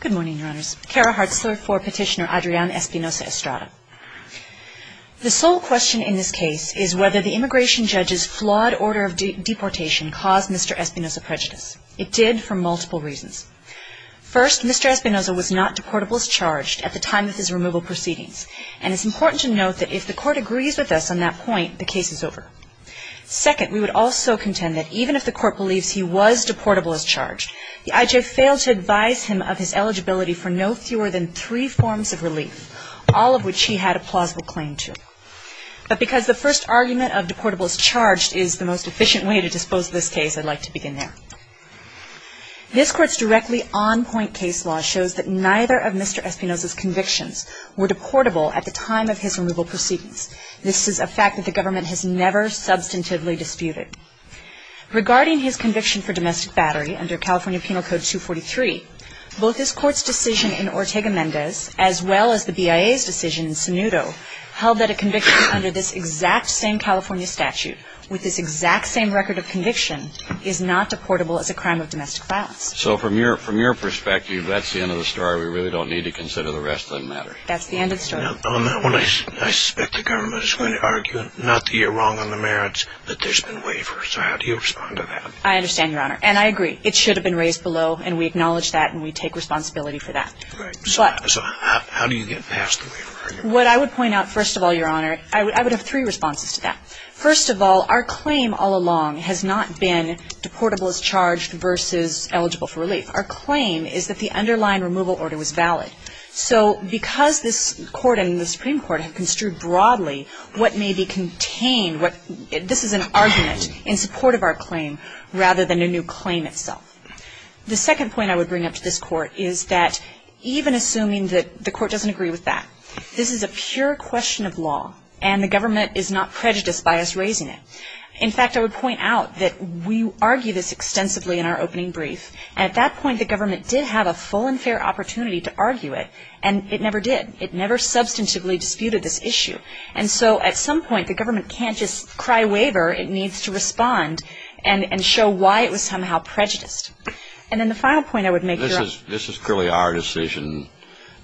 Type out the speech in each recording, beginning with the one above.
Good morning, Your Honors. Kara Hartzler for Petitioner Adrian Espinoza-Estrada. The sole question in this case is whether the immigration judge's flawed order of deportation caused Mr. Espinoza prejudice. It did, for multiple reasons. First, Mr. Espinoza was not deportable as charged at the time of his removal proceedings, and it's important to note that if the Court agrees with us on that point, the case is over. Second, we would also contend that even if the Court believes he was deportable as charged, the IJ failed to advise him of his eligibility for no fewer than three forms of relief, all of which he had a plausible claim to. But because the first argument of deportable as charged is the most efficient way to dispose of this case, I'd like to begin there. This Court's directly on-point case law shows that neither of Mr. Espinoza's convictions were deportable at the time of his removal proceedings. This is a fact that the government has never substantively disputed. Regarding his conviction for domestic battery under California Penal Code 243, both this Court's decision in Ortega-Mendez, as well as the BIA's decision in Sinudo, held that a conviction under this exact same California statute with this exact same record of conviction is not deportable as a crime of domestic violence. So from your perspective, that's the end of the story. We really don't need to consider the rest of the matter. That's the end of the story. Now, on that one, I suspect the government is going to argue, not that you're wrong on the merits, that there's been waivers. So how do you respond to that? I understand, Your Honor. And I agree. It should have been raised below, and we acknowledge that and we take responsibility for that. Right. So how do you get past the waiver argument? What I would point out, first of all, Your Honor, I would have three responses to that. First of all, our claim all along has not been deportable as charged versus eligible for relief. Our claim is that the underlying removal order was valid. So because this Court and the Supreme Court have construed broadly what may be contained, this is an argument in support of our claim rather than a new claim itself. The second point I would bring up to this Court is that even assuming that the Court doesn't agree with that, this is a pure question of law, and the government is not prejudiced by us raising it. In fact, I would point out that we argue this extensively in our opening brief. And at that point, the government did have a full and fair opportunity to argue it, and it never did. It never substantively disputed this issue. And so at some point, the government can't just cry waiver. It needs to respond and show why it was somehow prejudiced. And then the final point I would make, Your Honor. This is clearly our decision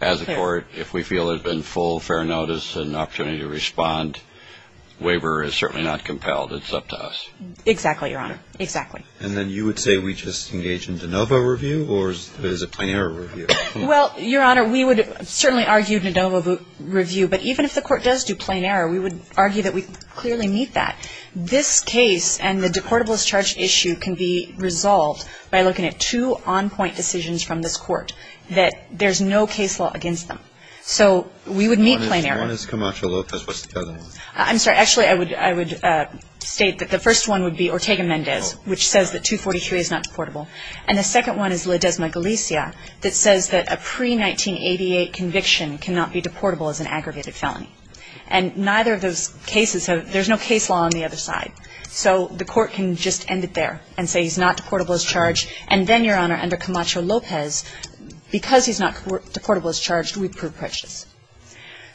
as a Court. If we feel there's been full, fair notice and opportunity to respond, waiver is certainly not compelled. It's up to us. Exactly, Your Honor. Exactly. And then you would say we just engage in de novo review, or is it a plain error review? Well, Your Honor, we would certainly argue de novo review. But even if the Court does do plain error, we would argue that we clearly meet that. This case and the deportable as charged issue can be resolved by looking at two on-point decisions from this Court that there's no case law against them. So we would meet plain error. One is Camacho-Lopez. What's the other one? I'm sorry. Actually, I would state that the first one would be Ortega-Mendez, which says that 243 is not deportable. And the second one is Ledesma-Galicia that says that a pre-1988 conviction cannot be deportable as an aggravated felony. And neither of those cases have – there's no case law on the other side. So the Court can just end it there and say he's not deportable as charged. And then, Your Honor, under Camacho-Lopez, because he's not deportable as charged, we prove prejudice.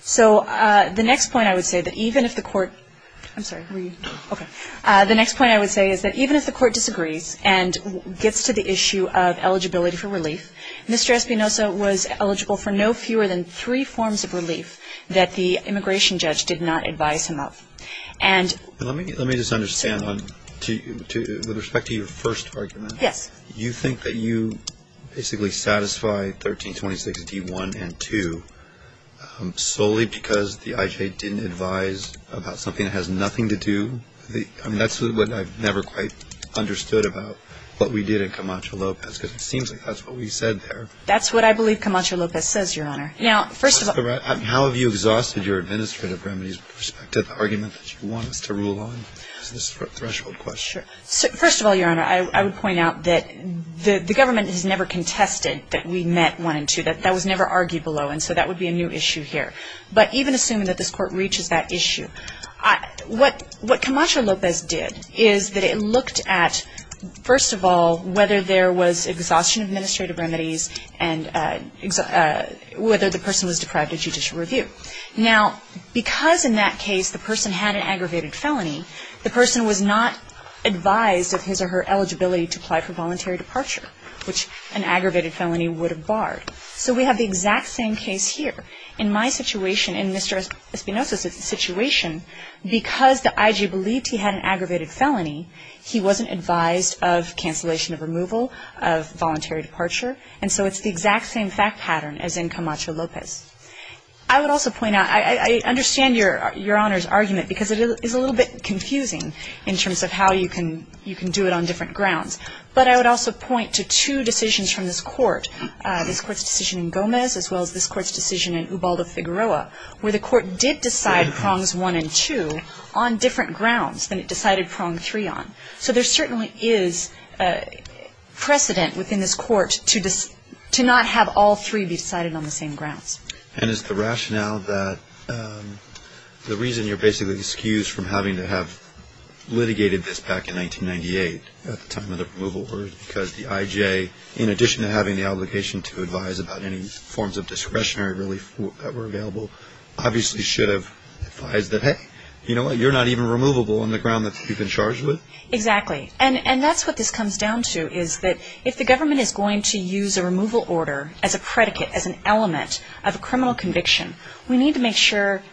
So the next point I would say that even if the Court – I'm sorry. Were you? Okay. The next point I would say is that even if the Court disagrees and gets to the issue of eligibility for relief, Mr. Espinosa was eligible for no fewer than three forms of relief that the immigration judge did not advise him of. And – Let me just understand. With respect to your first argument, you think that you basically satisfy 1326 D1 and 2 solely because the IJ didn't advise about something that has nothing to do – I mean, that's what I've never quite understood about what we did in Camacho-Lopez. Because it seems like that's what we said there. That's what I believe Camacho-Lopez says, Your Honor. Now, first of all – How have you exhausted your administrative remedies with respect to the argument that you want us to rule on, this threshold question? Sure. First of all, Your Honor, I would point out that the government has never contested that we met 1 and 2. That was never argued below. And so that would be a new issue here. But even assuming that this Court reaches that issue, what Camacho-Lopez did is that it looked at, first of all, whether there was exhaustion of administrative remedies and whether the person was deprived of judicial review. Now, because in that case the person had an aggravated felony, the person was not advised of his or her eligibility to apply for voluntary departure, which an aggravated felony would have barred. So we have the exact same case here. In my situation, in Mr. Espinoza's situation, because the IG believed he had an aggravated felony, he wasn't advised of cancellation of removal of voluntary departure. And so it's the exact same fact pattern as in Camacho-Lopez. I would also point out – I understand Your Honor's argument because it is a little bit confusing in terms of how you can do it on different grounds. But I would also point to two decisions from this Court, this Court's decision in Gomez as well as this Court's decision in Ubaldo-Figueroa, where the Court did decide prongs 1 and 2 on different grounds than it decided prong 3 on. So there certainly is precedent within this Court to not have all three be decided on the same grounds. And is the rationale that the reason you're basically excused from having to have litigated this back in 1998 at the time of the removal order because the IJ, in addition to having the obligation to advise about any forms of discretionary relief that were available, obviously should have advised that, hey, you know what, you're not even removable on the ground that you've been charged with? Exactly. And that's what this comes down to is that if the government is going to use a removal order as a predicate, as an element of a criminal conviction, we need to make sure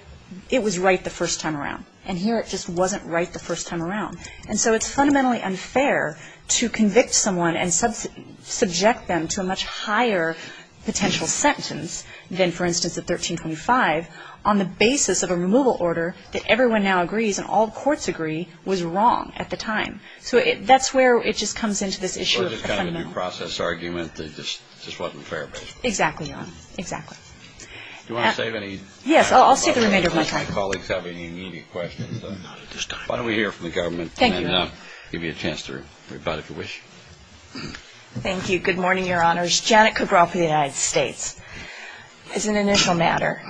it was right the first time around. And here it just wasn't right the first time around. And so it's fundamentally unfair to convict someone and subject them to a much higher potential sentence than, for instance, at 1325, on the basis of a removal order that everyone now agrees and all the courts agree was wrong at the time. So that's where it just comes into this issue of the fundamental. So it's just kind of a due process argument that just wasn't fair, basically. Exactly, Your Honor. Exactly. Do you want to save any time? Yes. I'll save the remainder of my time. I don't know if my colleagues have any immediate questions. Not at this time. Why don't we hear from the government? Thank you. And give you a chance to rebut if you wish. Thank you. Good morning, Your Honors. Janet Kugraw for the United States. As an initial matter,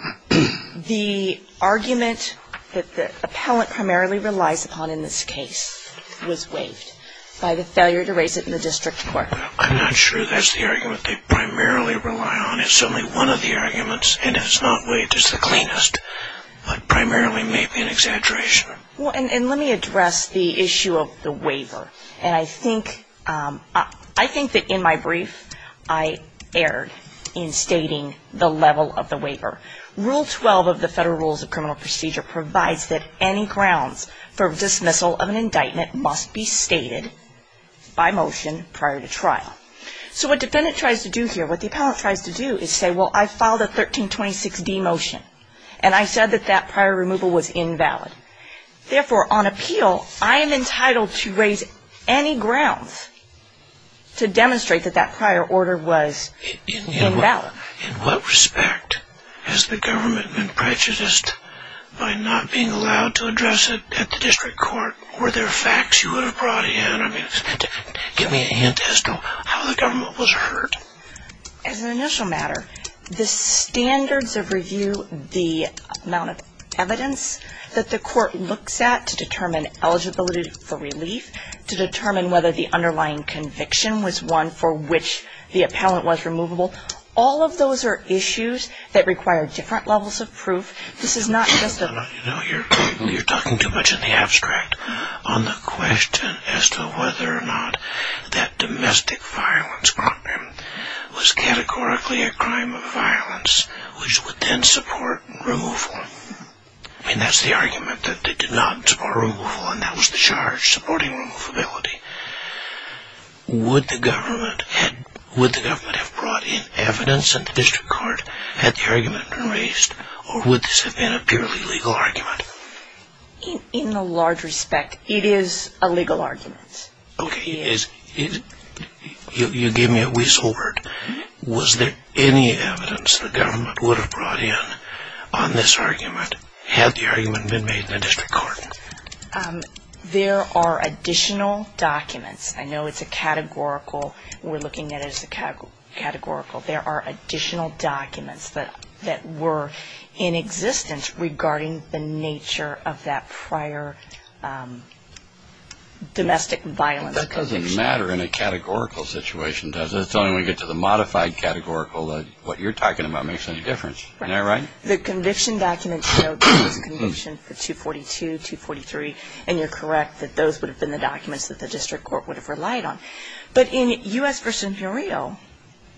the argument that the appellant primarily relies upon in this case was waived by the failure to raise it in the district court. I'm not sure that's the argument they primarily rely on. It's only one of the arguments. And if it's not waived, it's the cleanest. But primarily may be an exaggeration. And let me address the issue of the waiver. And I think that in my brief, I erred in stating the level of the waiver. Rule 12 of the Federal Rules of Criminal Procedure provides that any grounds for dismissal of an indictment must be stated by motion prior to trial. So what defendant tries to do here, what the appellant tries to do is say, well, I filed a 1326D motion. And I said that that prior removal was invalid. Therefore, on appeal, I am entitled to raise any grounds to demonstrate that that prior order was invalid. In what respect has the government been prejudiced by not being allowed to address it at the district court? Were there facts you would have brought in? I mean, give me a hint as to how the government was hurt. As an initial matter, the standards of review, the amount of evidence that the court looks at to determine eligibility for relief, to determine whether the underlying conviction was one for which the appellant was removable, all of those are issues that require different levels of proof. This is not just a... You know, you're talking too much in the abstract on the question as to whether or not that was categorically a crime of violence, which would then support removal. I mean, that's the argument, that they did not support removal, and that was the charge, supporting removability. Would the government have brought in evidence at the district court had the argument been raised, or would this have been a purely legal argument? In the large respect, it is a legal argument. Okay. You gave me a whistle word. Was there any evidence the government would have brought in on this argument, had the argument been made in the district court? There are additional documents. I know it's a categorical. We're looking at it as a categorical. There are additional documents that were in existence regarding the nature of that prior domestic violence conviction. That doesn't matter in a categorical situation, does it? It's only when we get to the modified categorical that what you're talking about makes any difference. Isn't that right? Right. The conviction documents show that there was conviction for 242, 243, and you're correct that those would have been the documents that the district court would have relied on. But in U.S. v. Rio,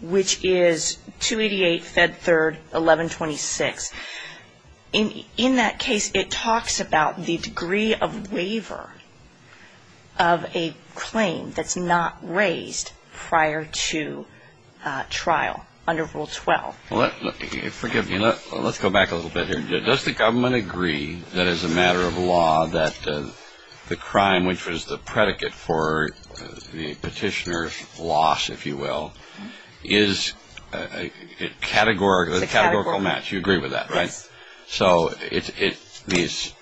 which is 288, Fed 3rd, 1126, in that case, it talks about the degree of waiver of a claim that's not raised prior to trial under Rule 12. Forgive me. Let's go back a little bit here. Does the government agree that as a matter of law that the crime, which was the predicate for the petitioner's loss, if you will, is a categorical match? It's a categorical match. You agree with that, right? Yes. So these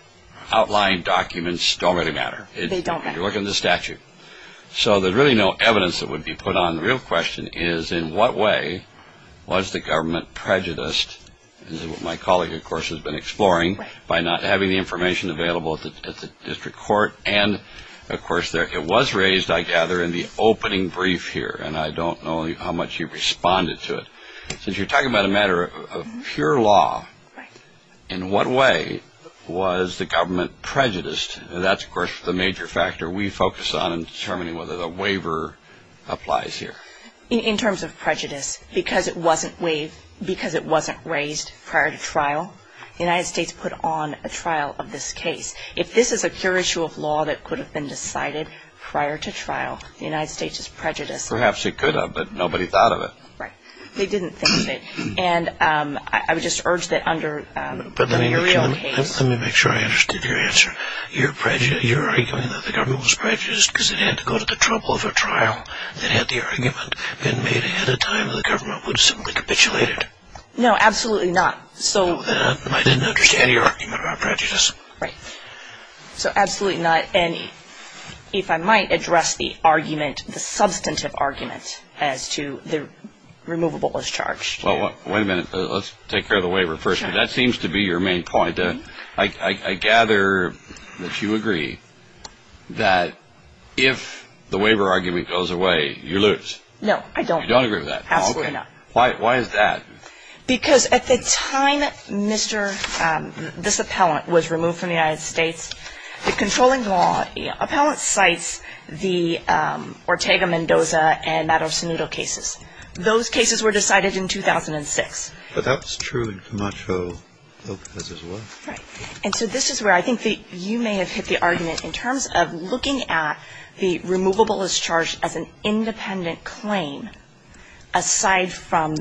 outlying documents don't really matter. They don't matter. You're looking at the statute. So there's really no evidence that would be put on. The real question is, in what way was the government prejudiced? This is what my colleague, of course, has been exploring by not having the information available at the district court. And, of course, it was raised, I gather, in the opening brief here, and I don't know how much you responded to it. Since you're talking about a matter of pure law, in what way was the government prejudiced? That's, of course, the major factor we focus on in determining whether the waiver applies here. In terms of prejudice, because it wasn't raised prior to trial, the United States put on a trial of this case. If this is a pure issue of law that could have been decided prior to trial, the United States is prejudiced. Perhaps it could have, but nobody thought of it. Right. They didn't think of it. And I would just urge that under the real case... But let me make sure I understood your answer. You're arguing that the government was prejudiced because it had to go to the trouble of a trial that had the argument been made ahead of time and the government would have simply capitulated. No, absolutely not. So... I didn't understand your argument about prejudice. Right. So, absolutely not. And if I might address the argument, the substantive argument as to the removable discharge. Well, wait a minute. Let's take care of the waiver first. Sure. That seems to be your main point. I gather that you agree that if the waiver argument goes away, you lose. No, I don't. You don't agree with that? Absolutely not. Why is that? Because at the time this appellant was removed from the United States, the controlling law appellant cites the Ortega-Mendoza and Maduro-Sanudo cases. Those cases were decided in 2006. But that's true in Camacho, Lopez as well. Right. And so this is where I think you may have hit the argument in terms of looking at the removable discharge as an independent claim aside from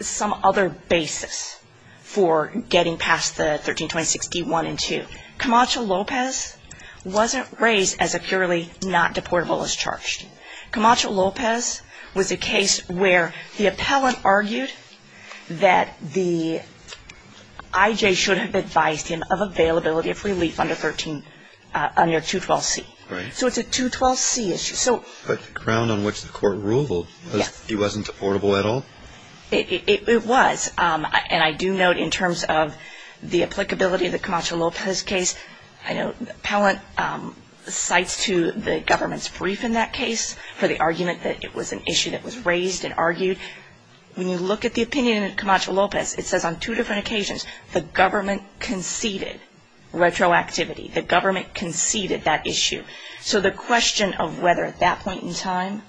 some other basis for getting past the 1326 D-1 and 2. Camacho-Lopez wasn't raised as a purely not deportable discharge. Camacho-Lopez was a case where the appellant argued that the I.J. should have advised him of availability of relief under 212C. Right. So it's a 212C issue. But the ground on which the court ruled was he wasn't deportable at all? It was. And I do note in terms of the applicability of the Camacho-Lopez case, I know the appellant cites to the government's brief in that case for the argument that it was an issue that was raised and argued. When you look at the opinion in Camacho-Lopez, it says on two different occasions, the government conceded retroactivity. The government conceded that issue. So the question of whether at that point in time...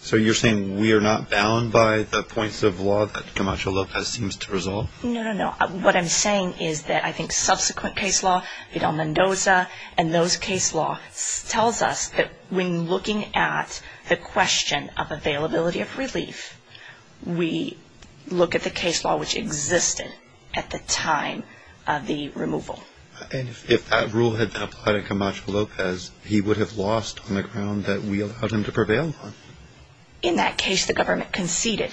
So you're saying we are not bound by the points of law that Camacho-Lopez seems to resolve? No, no, no. What I'm saying is that I think subsequent case law, Vidal-Mendoza and those case laws tells us that when looking at the question of availability of relief, we look at the case law which existed at the time of the removal. And if that rule had been applied in Camacho-Lopez, he would have lost on the ground that we allowed him to prevail on? In that case, the government conceded.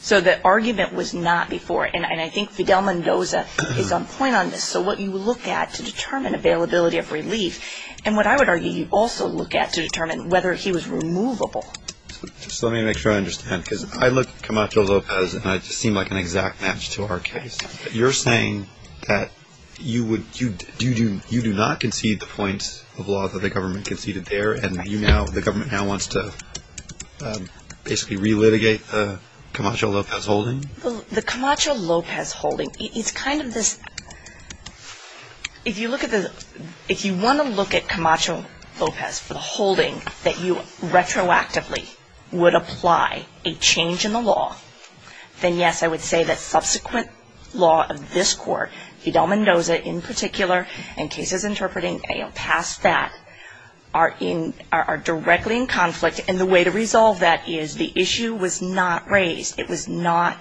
So the argument was not before. And I think Vidal-Mendoza is on point on this. So what you look at to determine availability of relief, and what I would argue you also look at to determine whether he was removable. So let me make sure I understand, because I look at Camacho-Lopez and I seem like an exact match to our case. You're saying that you do not concede the points of law that the government conceded there, and the government now wants to basically re-litigate the Camacho-Lopez holding? The Camacho-Lopez holding, it's kind of this... If you want to look at Camacho-Lopez for the time being, and retroactively would apply a change in the law, then yes, I would say that subsequent law of this Court, Vidal-Mendoza in particular, and cases interpreting past that, are directly in conflict. And the way to resolve that is the issue was not raised. It was not...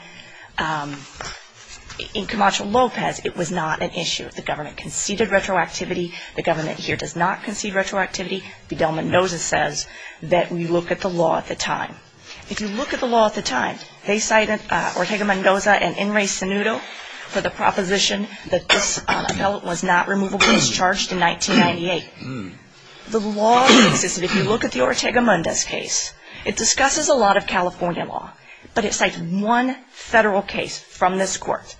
In Camacho-Lopez, it was not an issue. The government conceded retroactivity. The government here does not concede retroactivity. Vidal-Mendoza says that we look at the law at the time. If you look at the law at the time, they cited Ortega-Mendoza and Inres-Sanudo for the proposition that this appellant was not removable. He was charged in 1998. The law existed. If you look at the Ortega-Mendoza case, it discusses a lot of California law, but it cites one federal case from this Court,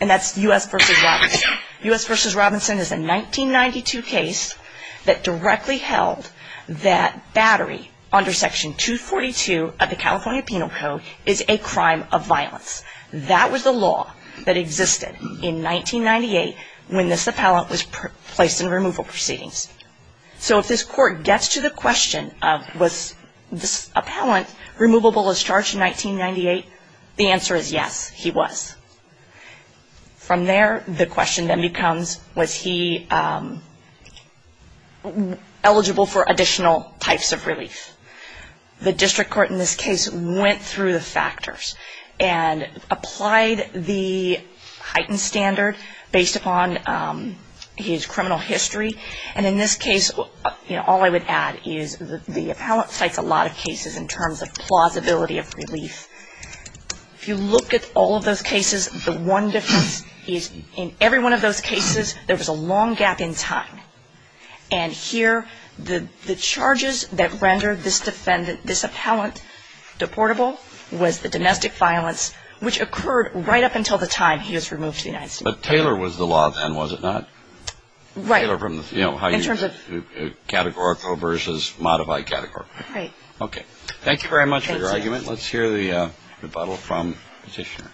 and that's U.S. v. Robinson. U.S. v. Robinson is a 1992 case that directly held that battery under Section 242 of the California Penal Code is a crime of violence. That was the law that existed in 1998 when this appellant was placed in removal proceedings. So if this Court gets to the question of was this appellant removable as charged in 1998, the answer is yes, he was. From there, the question then becomes was he eligible for additional types of relief. The district court in this case went through the factors and applied the heightened standard based upon his criminal history, and in this case, all I would add is the appellant cites a lot of cases in terms of plausibility of relief. If you look at all of those cases, the one difference is in every one of those cases, there was a long gap in time. And here, the charges that rendered this defendant, this appellant deportable was the domestic violence, which occurred right up until the time he was removed to the United States. But Taylor was the law then, was it not? Right. In terms of categorical versus modified categorical. Right. Okay. Thank you very much for your argument. Let's hear the rebuttal from the Petitioner.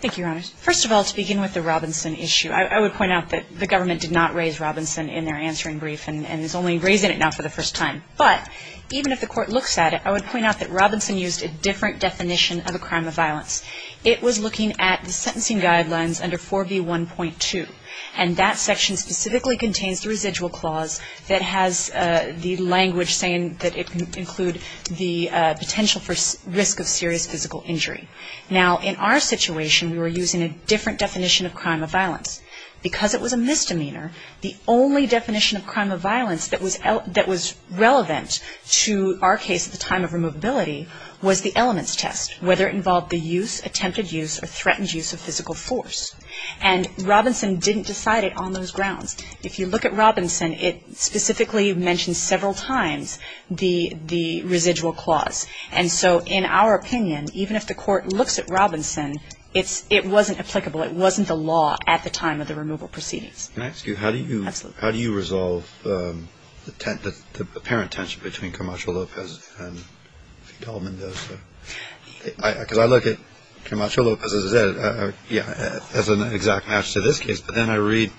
Thank you, Your Honors. First of all, to begin with the Robinson issue, I would point out that the government did not raise Robinson in their answering brief and is only raising it now for the first time. But even if the Court looks at it, I would point out that Robinson used a different definition of a crime of violence. It was looking at the sentencing guidelines under 4B1.2. And that section specifically contains the residual clause that has the language saying that it can include the potential for risk of serious physical injury. Now, in our situation, we were using a different definition of crime of violence. Because it was a misdemeanor, the only definition of crime of violence that was relevant to our case at the time of removability was the elements test, whether it involved the use, attempted use, or threatened use of physical force. And Robinson didn't decide it on those grounds. If you look at Robinson, it specifically mentions several times the residual clause. And so, in our opinion, even if the Court looks at Robinson, it wasn't applicable. It wasn't the law at the time of the removal proceedings. Can I ask you, how do you resolve the apparent tension between Camacho Lopez and Del Mendoza? Because I look at Camacho Lopez as an exact match to this case. But then I read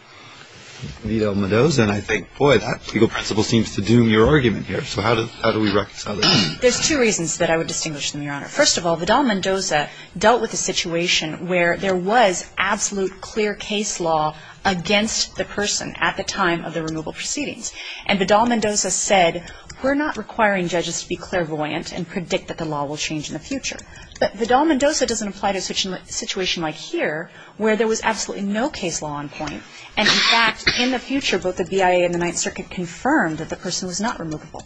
Del Mendoza, and I think, boy, that legal principle seems to doom your argument here. So how do we reconcile this? There's two reasons that I would distinguish them, Your Honor. First of all, Vidal Mendoza dealt with a situation where there was absolute clear case law against the person at the time of the removal proceedings. And Vidal Mendoza said, we're not requiring judges to be clairvoyant and predict that the law will change in the future. But Vidal Mendoza doesn't apply to a situation like here, where there was absolutely no case law on point. And, in fact, in the future, both the BIA and the Ninth Circuit confirmed that the person was not removable.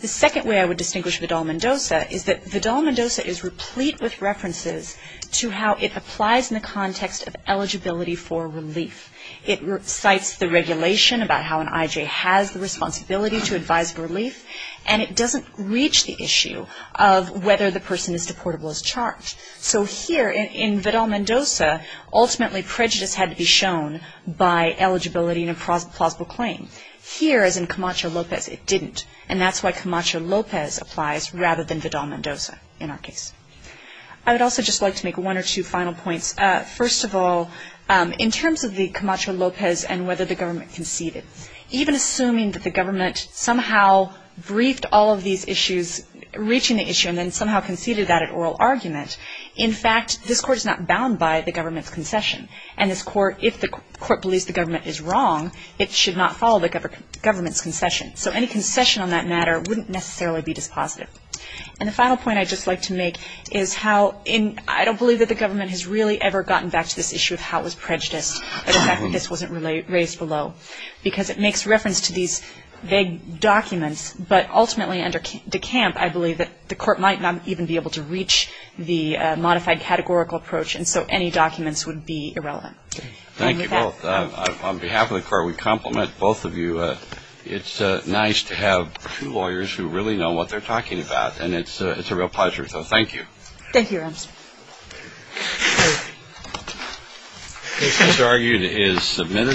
The second way I would distinguish Vidal Mendoza is that Vidal Mendoza is replete with references to how it applies in the context of eligibility for relief. It cites the regulation about how an I.J. has the responsibility to advise relief, and it doesn't reach the issue of whether the person is deportable as charged. So here, in Vidal Mendoza, ultimately prejudice had to be shown by eligibility and a plausible claim. Here, as in Camacho Lopez, it didn't. And that's why Camacho Lopez applies rather than Vidal Mendoza in our case. I would also just like to make one or two final points. First of all, in terms of the Camacho Lopez and whether the government conceded, even assuming that the government somehow briefed all of these issues, reaching the issue, and then somehow conceded that at oral argument, in fact, this Court is not bound by the government's concession. And this Court, if the Court believes the government is wrong, it should not follow the government's concession. So any concession on that matter wouldn't necessarily be dispositive. And the final point I'd just like to make is how I don't believe that the government has really ever gotten back to this issue of how it was prejudiced, the fact that this wasn't raised below, because it makes reference to these vague documents. But ultimately, under De Camp, I believe that the Court might not even be able to reach the modified categorical approach, and so any documents would be irrelevant. Thank you both. On behalf of the Court, we compliment both of you. It's nice to have two lawyers who really know what they're talking about, and it's a real pleasure. So thank you. Thank you, Ramsey. Thank you.